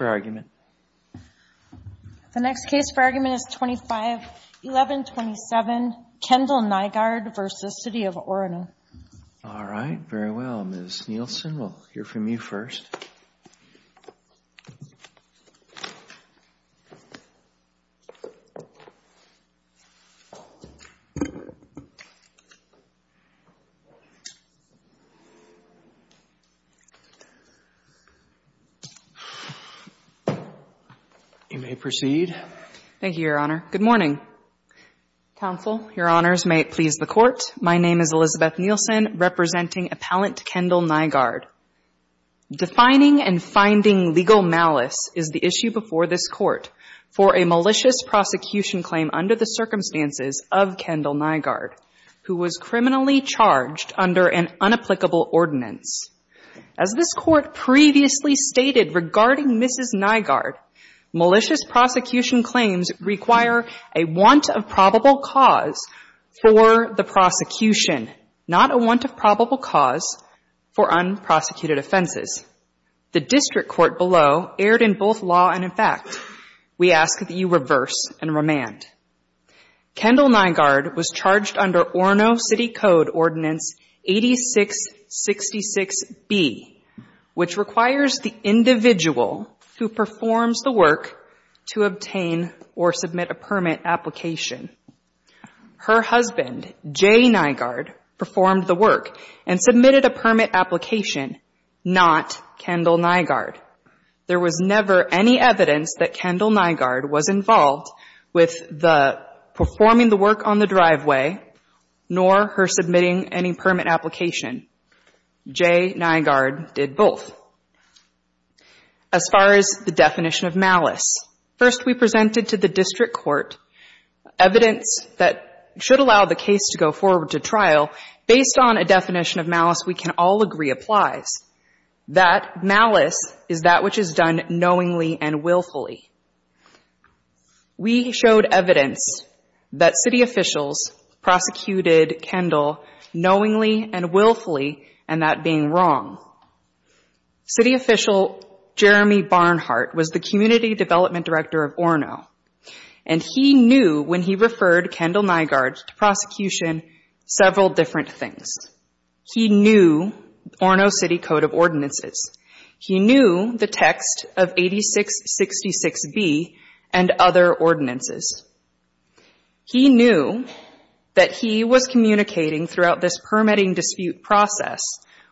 The next case for argument is 25-1127, Kendall Nygard v. City of Orono. All right, very well. Ms. Nielsen, we'll hear from you first. You may proceed. Thank you, Your Honor. Good morning. Counsel, Your Honors, may it please the Court, my name is Elizabeth Nielsen, representing appellant Kendall Nygard. Defining and finding legal malice is the issue before this Court for a malicious prosecution claim under the circumstances of Kendall Nygard, who was criminally charged under an unapplicable ordinance. As this Court previously stated regarding Mrs. Nygard, malicious prosecution claims require a want of probable cause for the prosecution, not a want of probable cause for unprosecuted offenses. The district court below erred in both law and in fact. We ask that you reverse and remand. Kendall Nygard was charged under Orono City Code Ordinance 8666B, which requires the individual who performs the work to obtain or submit a permit application. Her husband, Jay Nygard, performed the work and submitted a permit application, not Kendall Nygard. There was never any evidence that Kendall Nygard was involved with the performing the work on the driveway nor her submitting any permit application. Jay Nygard did both. As far as the definition of malice, first we presented to the district court evidence that should allow the case to go forward to trial. Based on a definition of malice we can all agree applies. That malice is that which is done knowingly and willfully. We showed evidence that city officials prosecuted Kendall knowingly and willfully and that being wrong. City official Jeremy Barnhart was the community development director of Orono, and he knew when he referred Kendall Nygard to prosecution several different things. He knew Orono City Code of Ordinances. He knew the text of 8666B and other ordinances. He knew that he was communicating throughout this permitting dispute process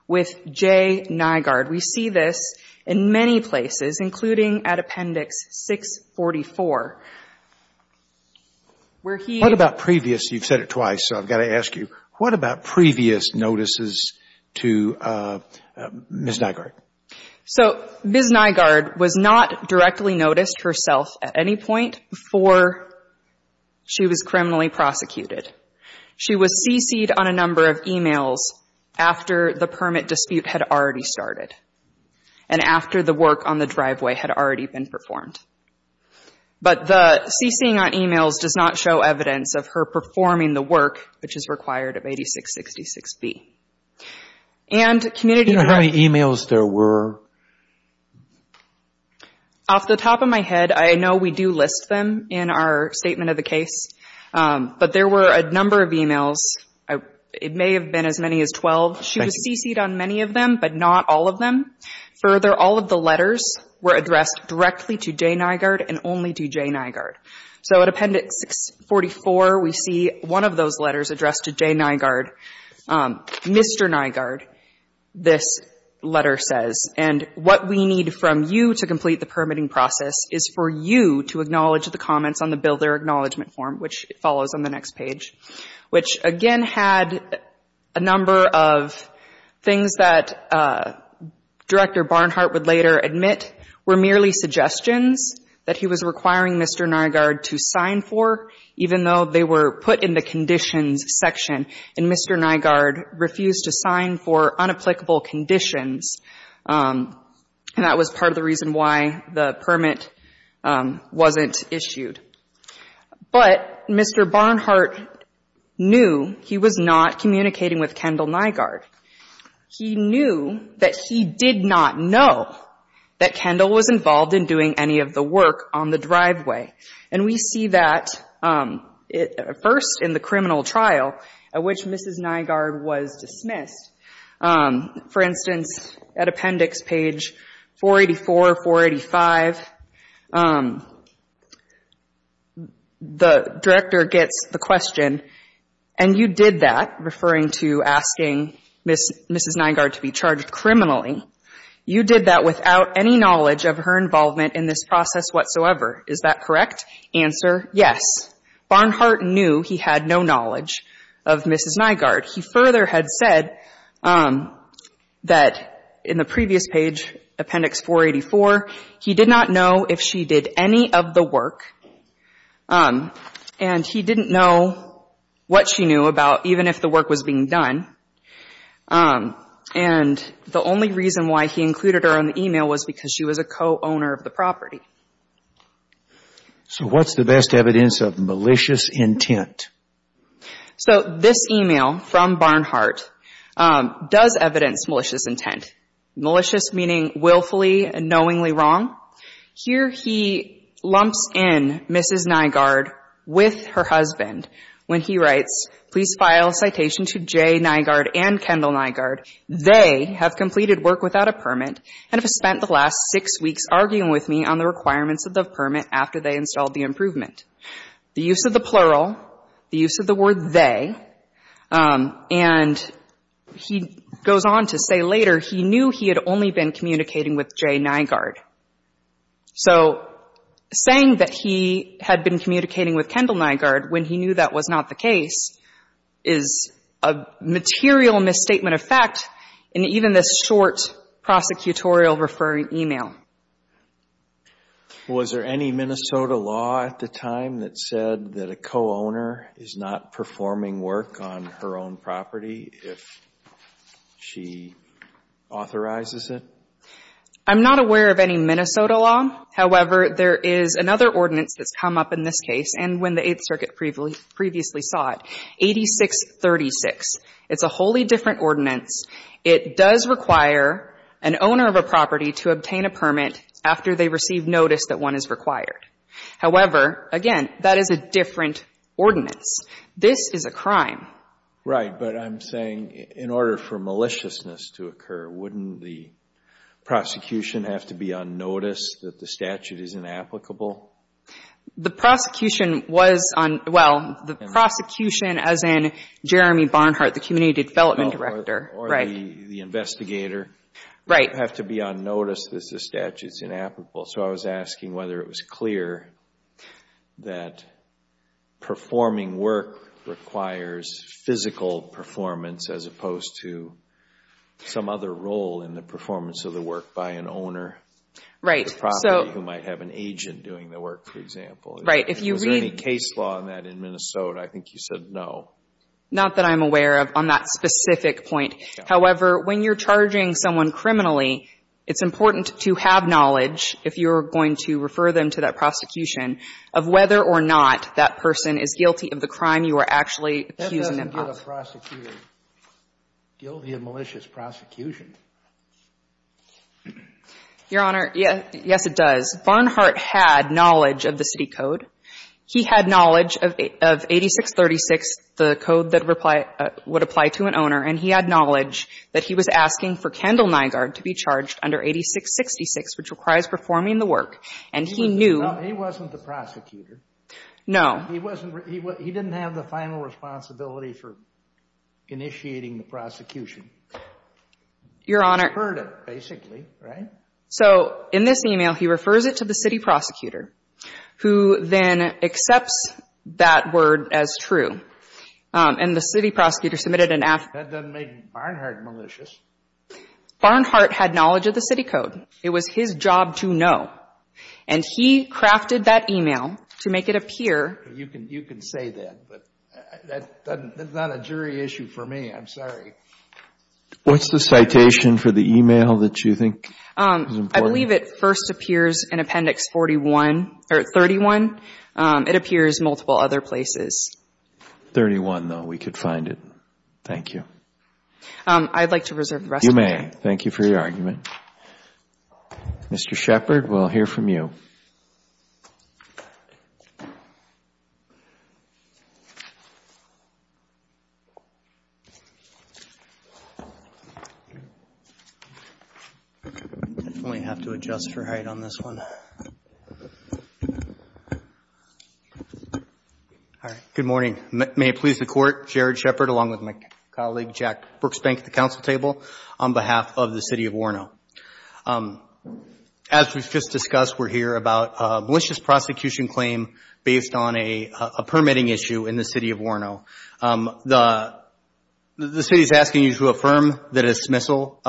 with Jay Nygard. We see this in many places, including at Appendix 644. What about previous, you've said it twice so I've got to ask you, what about previous notices to Ms. Nygard? So Ms. Nygard was not directly noticed herself at any point before she was criminally prosecuted. She was CC'd on a number of e-mails after the permit dispute had already started and after the work on the driveway had already been performed. But the CC'ing on e-mails does not show evidence of her performing the work which is required of 8666B. And community- Do you know how many e-mails there were? Off the top of my head, I know we do list them in our statement of the case, but there were a number of e-mails. It may have been as many as 12. She was CC'd on many of them, but not all of them. Further, all of the letters were addressed directly to Jay Nygard and only to Jay Nygard. So at Appendix 644, we see one of those letters addressed to Jay Nygard, Mr. Nygard, this letter says. And what we need from you to complete the permitting process is for you to acknowledge the comments on the Builder Acknowledgement Form, which follows on the next page, which again had a number of things that Director Barnhart would later admit were merely suggestions that he was requiring Mr. Nygard to sign for, even though they were put in the conditions section. And Mr. Nygard refused to sign for unapplicable conditions. And that was part of the reason why the permit wasn't issued. But Mr. Barnhart knew he was not communicating with Kendall Nygard. He knew that he did not know that Kendall was involved in doing any of the work on the driveway. And we see that first in the criminal trial, at which Mrs. Nygard was dismissed. For instance, at Appendix page 484, 485, the Director gets the question, and you did that, referring to asking Mrs. Nygard to be charged criminally, you did that without any knowledge of her involvement in this process whatsoever. Is that correct? Answer, yes. Barnhart knew he had no knowledge of Mrs. Nygard. He further had said that in the previous page, Appendix 484, he did not know if she did any of the work. And he didn't know what she knew about even if the work was being done. And the only reason why he included her in the e-mail was because she was a co-owner of the property. So what's the best evidence of malicious intent? So this e-mail from Barnhart does evidence malicious intent. Malicious meaning willfully and knowingly wrong. Here he lumps in Mrs. Nygard with her husband when he writes, The use of the plural, the use of the word they, and he goes on to say later he knew he had only been communicating with J. Nygard. So saying that he had been communicating with Kendall Nygard when he knew that was not the case, that's not the case. Is a material misstatement of fact in even this short prosecutorial referring e-mail. Was there any Minnesota law at the time that said that a co-owner is not performing work on her own property if she authorizes it? I'm not aware of any Minnesota law. However, there is another ordinance that's come up in this case and when the Eighth Circuit previously saw it, 8636. It's a wholly different ordinance. It does require an owner of a property to obtain a permit after they receive notice that one is required. However, again, that is a different ordinance. This is a crime. Right. But I'm saying in order for maliciousness to occur, wouldn't the prosecution have to be on notice that the statute is inapplicable? The prosecution was on, well, the prosecution as in Jeremy Barnhart, the community development director. Or the investigator. Right. Have to be on notice that the statute is inapplicable. So I was asking whether it was clear that performing work requires physical performance as opposed to some other role in the performance of the work by an Right. Is there any case law on that in Minnesota? I think you said no. Not that I'm aware of on that specific point. However, when you're charging someone criminally, it's important to have knowledge if you're going to refer them to that prosecution of whether or not that person is guilty of the crime you are actually accusing them of. That doesn't give a prosecutor guilty of malicious prosecution. Your Honor, yes, it does. Barnhart had knowledge of the city code. He had knowledge of 8636, the code that would apply to an owner. And he had knowledge that he was asking for Kendall Nygaard to be charged under 8666, which requires performing the work. And he knew. No, he wasn't the prosecutor. No. He didn't have the final responsibility for initiating the prosecution. Your Honor. He referred it, basically. Right? So in this email, he refers it to the city prosecutor, who then accepts that word as true. And the city prosecutor submitted an affidavit. That doesn't make Barnhart malicious. Barnhart had knowledge of the city code. It was his job to know. And he crafted that email to make it appear. You can say that, but that's not a jury issue for me. I'm sorry. What's the citation for the email that you think is important? I believe it first appears in Appendix 41, or 31. It appears multiple other places. 31, though, we could find it. Thank you. I'd like to reserve the rest of my time. You may. Thank you for your argument. Mr. Shepard, we'll hear from you. I definitely have to adjust for height on this one. All right. Good morning. May it please the Court, Jared Shepard, along with my colleague, Jack Brooksbank, at the Council table, on behalf of the City of Warno. As we've just discussed, we're here about a malicious prosecution claim based on a permitting issue in the City of Warno. The City is asking you to affirm that a dismissal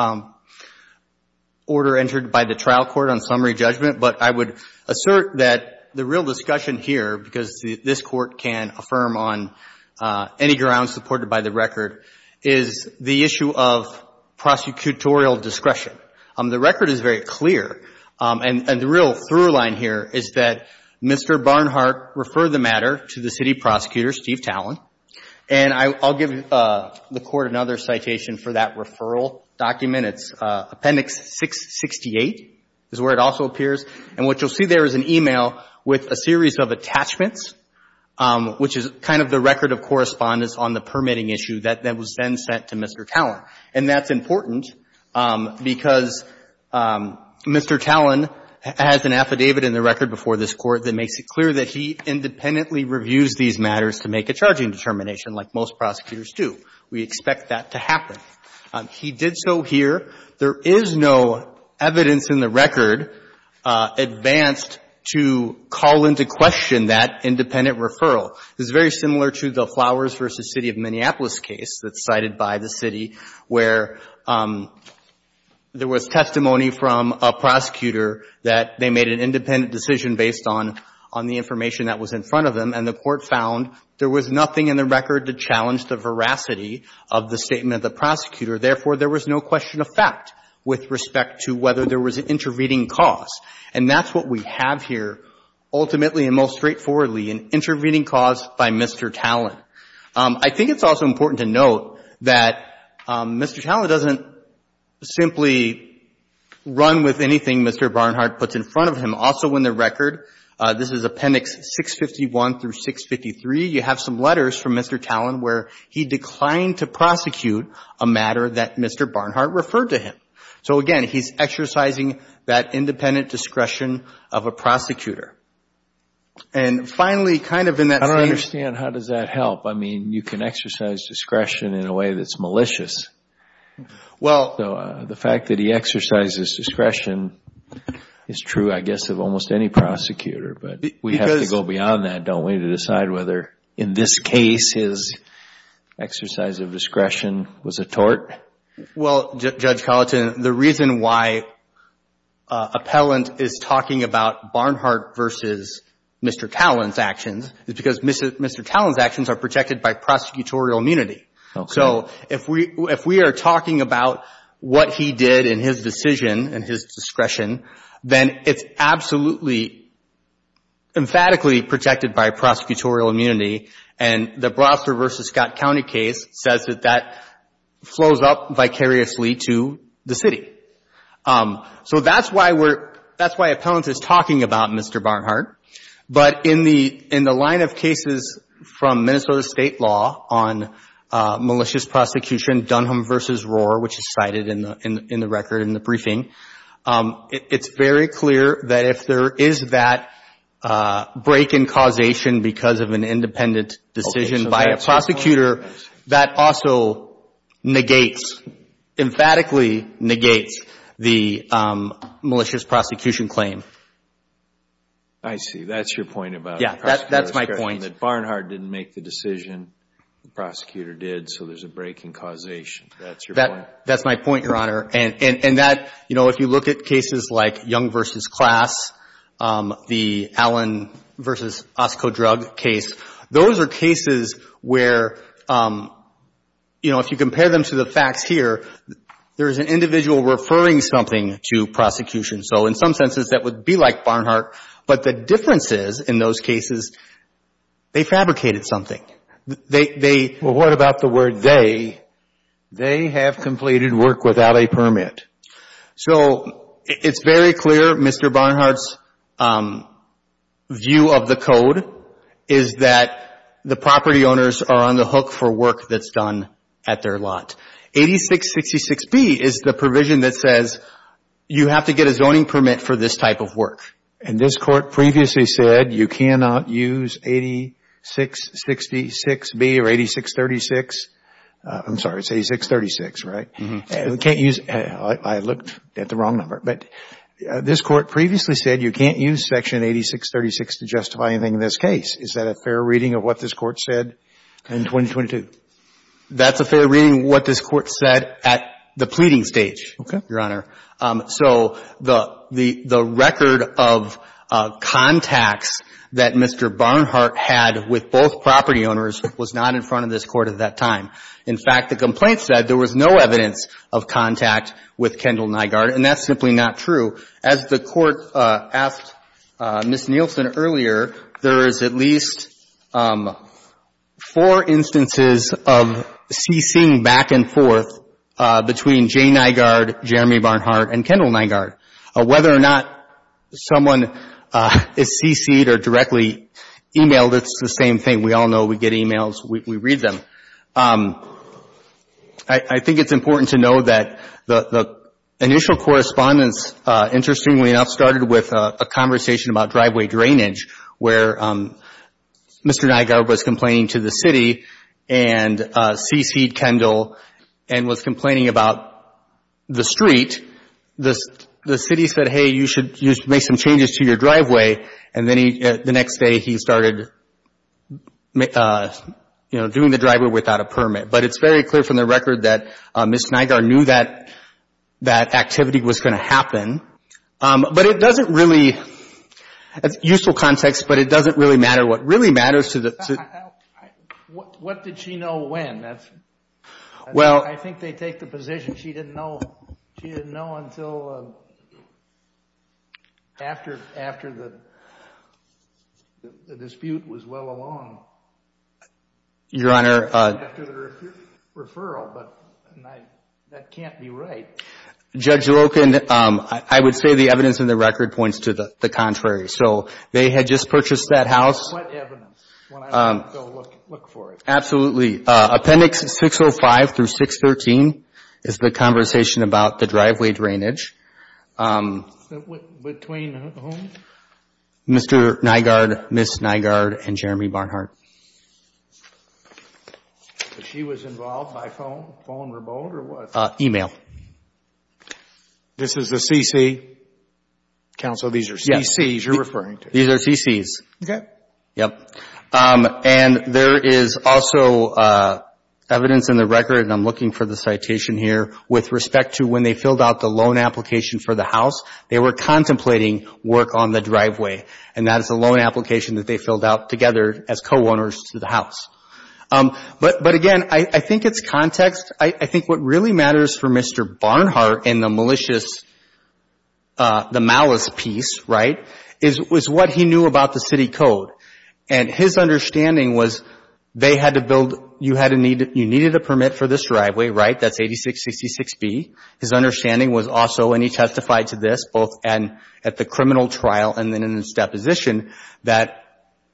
order entered by the trial court on summary judgment, but I would assert that the real discussion here, because this court can affirm on any grounds supported by the record, is the issue of prosecutorial discretion. The record is very clear, and the real through line here is that Mr. Barnhart referred the And I'll give the Court another citation for that referral document. It's Appendix 668 is where it also appears. And what you'll see there is an email with a series of attachments, which is kind of the record of correspondence on the permitting issue that was then sent to Mr. Tallon. And that's important because Mr. Tallon has an affidavit in the record before this determination, like most prosecutors do. We expect that to happen. He did so here. There is no evidence in the record advanced to call into question that independent referral. It's very similar to the Flowers v. City of Minneapolis case that's cited by the City, where there was testimony from a prosecutor that they made an independent decision based on the information that was in front of them. And the Court found there was nothing in the record to challenge the veracity of the statement of the prosecutor. Therefore, there was no question of fact with respect to whether there was an intervening cause. And that's what we have here, ultimately and most straightforwardly, an intervening cause by Mr. Tallon. I think it's also important to note that Mr. Tallon doesn't simply run with anything Mr. Barnhart puts in front of him. Also in the record, this is Appendix 651 through 653, you have some letters from Mr. Tallon where he declined to prosecute a matter that Mr. Barnhart referred to him. So again, he's exercising that independent discretion of a prosecutor. And finally, kind of in that same— I don't understand. How does that help? I mean, you can exercise discretion in a way that's malicious. Well— The fact that he exercises discretion is true, I guess, of almost any prosecutor. But we have to go beyond that, don't we, to decide whether in this case his exercise of discretion was a tort? Well, Judge Colleton, the reason why Appellant is talking about Barnhart v. Mr. Tallon's actions is because Mr. Tallon's actions are protected by prosecutorial immunity. Okay. So if we are talking about what he did in his decision and his discretion, then it's absolutely emphatically protected by prosecutorial immunity. And the Brosser v. Scott County case says that that flows up vicariously to the city. So that's why we're—that's why Appellant is talking about Mr. Barnhart. But in the line of cases from Minnesota State law on malicious prosecution, Dunham v. Rohr, which is cited in the record in the briefing, it's very clear that if there is that break in causation because of an independent decision by a prosecutor, that also negates, emphatically negates, the malicious prosecution claim. I see. That's your point about the prosecutorial discretion. Yeah, that's my point. That Barnhart didn't make the decision, the prosecutor did, so there's a break in causation. That's your point? That's my point, Your Honor. And that, you know, if you look at cases like Young v. Class, the Allen v. Oscodrug case, those are cases where, you know, if you compare them to the facts here, there is an individual referring something to prosecution. So, in some senses, that would be like Barnhart, but the difference is, in those cases, they fabricated something. They— Well, what about the word they? They have completed work without a permit. So, it's very clear Mr. Barnhart's view of the code is that the property owners are on the hook for work that's done at their lot. 8666B is the provision that says you have to get a zoning permit for this type of work. And this Court previously said you cannot use 8666B or 8636. I'm sorry, it's 8636, right? You can't use—I looked at the wrong number. But this Court previously said you can't use Section 8636 to justify anything in this case. Is that a fair reading of what this Court said in 2022? That's a fair reading of what this Court said at the pleading stage, Your Honor. So, the record of contacts that Mr. Barnhart had with both property owners was not in front of this Court at that time. In fact, the complaint said there was no evidence of contact with Kendall Nygaard, and that's simply not true. As the Court asked Ms. Nielsen earlier, there is at least four instances of cc'ing back and forth between Jay Nygaard, Jeremy Barnhart, and Kendall Nygaard. Whether or not someone is cc'ed or directly emailed, it's the same thing. We all know we get emails, we read them. I think it's important to know that the initial correspondence, interestingly enough, started with a conversation about driveway drainage where Mr. Nygaard was complaining to the city and cc'ed Kendall and was complaining about the street. The city said, hey, you should make some changes to your driveway. The next day, he started doing the driveway without a permit. But it's very clear from the record that Ms. Nygaard knew that activity was going to happen. It's a useful context, but it doesn't really matter. What really matters to the… What did she know when? I think they take the position she didn't know until after the dispute was well along. Your Honor. After the referral, but that can't be right. Judge Loken, I would say the evidence in the record points to the contrary. So they had just purchased that house. What evidence? When I go look for it. Absolutely. Appendix 605 through 613 is the conversation about the driveway drainage. Between whom? Mr. Nygaard, Ms. Nygaard, and Jeremy Barnhart. She was involved by phone, phone remote, or what? Email. This is a cc? Counsel, these are cc's you're referring to? Yes. These are cc's. Okay. Yep. And there is also evidence in the record, and I'm looking for the citation here, with respect to when they filled out the loan application for the house, they were contemplating work on the driveway. And that is a loan application that they filled out together as co-owners to the house. But again, I think it's context. I think what really matters for Mr. Barnhart in the malicious, the malice piece, right, is what he knew about the city code. And his understanding was they had to build, you needed a permit for this driveway, right? That's 8666B. His understanding was also, and he testified to this both at the criminal trial and then in his deposition, that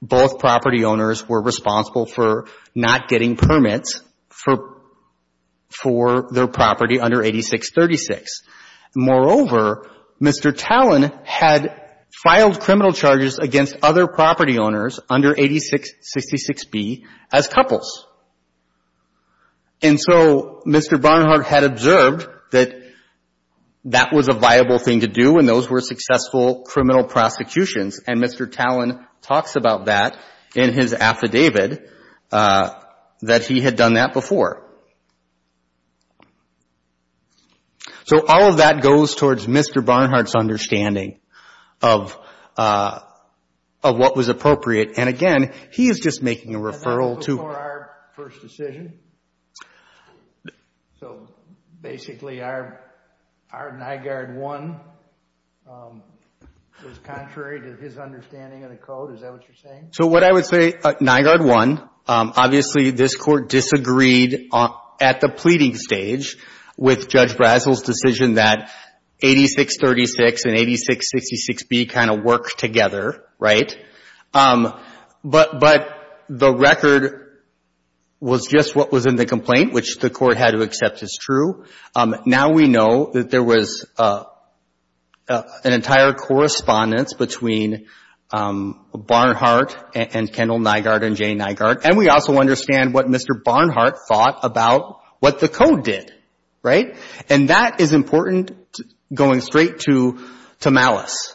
both property owners were responsible for not getting permits for their property under 8636. Moreover, Mr. Tallon had filed criminal charges against other property owners under 8666B as couples. And so Mr. Barnhart had observed that that was a viable thing to do, and those were successful criminal prosecutions. And Mr. Tallon talks about that in his affidavit, that he had done that before. So all of that goes towards Mr. Barnhart's understanding of what was appropriate. And again, he is just making a referral to... That was before our first decision. So basically our NIGARD 1 was contrary to his understanding of the code. Is that what you're saying? So what I would say, NIGARD 1, obviously this court disagreed at the pleading stage with Judge Brazel's decision that 8636 and 8666B kind of work together, right? But the record was just what was in the complaint, which the court had to accept as true. Now we know that there was an entire correspondence between Barnhart and Kendall NIGARD and Jay NIGARD, and we also understand what Mr. Barnhart thought about what the code did, right? And that is important going straight to malice,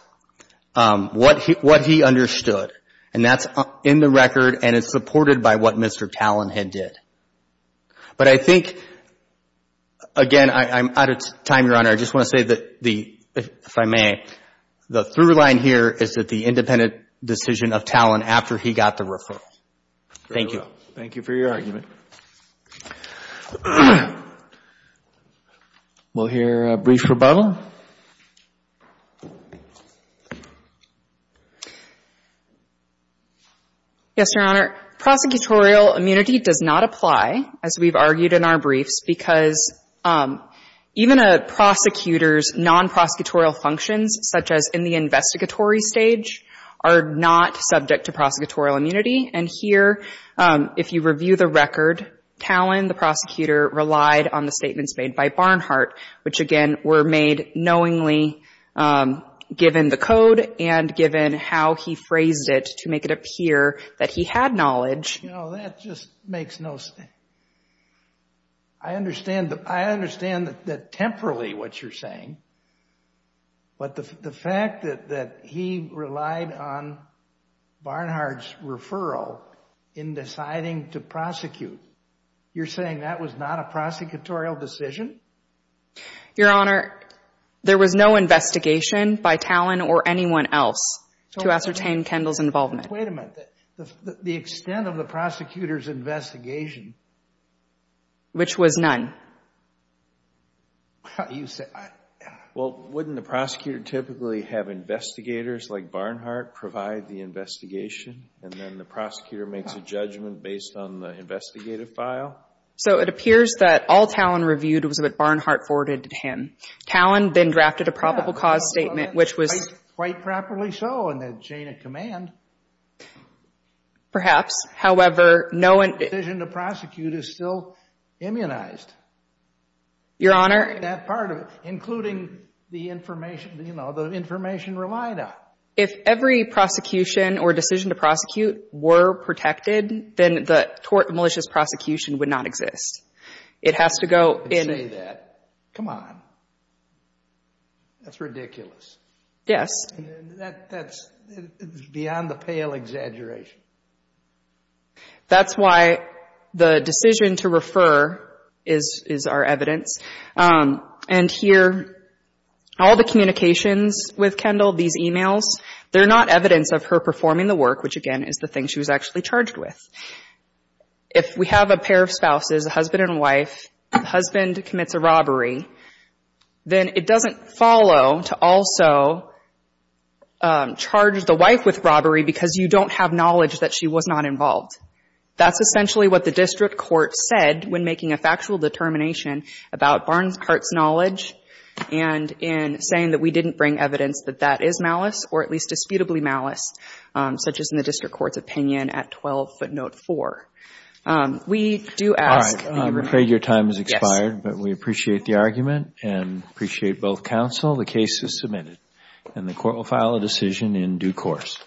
what he understood. And that's in the record, and it's supported by what Mr. Tallon had did. But I think, again, I'm out of time, Your Honor. I just want to say that the, if I may, the through line here is that the independent decision of Tallon after he got the referral. Thank you. Thank you for your argument. We'll hear a brief rebuttal. Yes, Your Honor. Prosecutorial immunity does not apply, as we've argued in our briefs, because even a prosecutor's non-prosecutorial functions, such as in the investigatory stage, are not subject to prosecutorial immunity. And here, if you review the record, Tallon, the prosecutor, relied on the statements made by Barnhart, which, again, were made knowingly, given the code and given how he phrased it to make it appear that he had knowledge. You know, that just makes no sense. I understand that, temporarily, what you're saying, but the fact that he relied on Barnhart's referral in deciding to prosecute, you're saying that was not a prosecutorial decision? Your Honor, there was no investigation by Tallon or anyone else to ascertain Kendall's involvement. Wait a minute. The extent of the prosecutor's investigation? Which was none. Well, wouldn't the prosecutor typically have investigators like Barnhart provide the investigation, and then the prosecutor makes a judgment based on the investigative file? So it appears that all Tallon reviewed was what Barnhart forwarded to him. Tallon then drafted a probable cause statement, which was... Quite properly so in the chain of command. Perhaps. However, no one... Decision to prosecute is still immunized. Your Honor... That part of it, including the information, you know, the information relied on. If every prosecution or decision to prosecute were protected, then the tort and malicious prosecution would not exist. It has to go in... Don't say that. Come on. That's ridiculous. Yes. That's beyond a pale exaggeration. That's why the decision to refer is our evidence. And here, all the communications with Kendall, these e-mails, they're not evidence of her performing the work, which, again, is the thing she was actually charged with. If we have a pair of spouses, a husband and a wife, the husband commits a robbery, then it doesn't follow to also charge the wife with robbery because you don't have knowledge that she was not involved. That's essentially what the district court said when making a factual determination about Barnhart's knowledge and in saying that we didn't bring evidence that that is malice or at least disputably malice, such as in the district court's opinion at 12 footnote 4. We do ask... I'm afraid your time has expired. But we appreciate the argument and appreciate both counsel. The case is submitted and the court will file a decision in due course.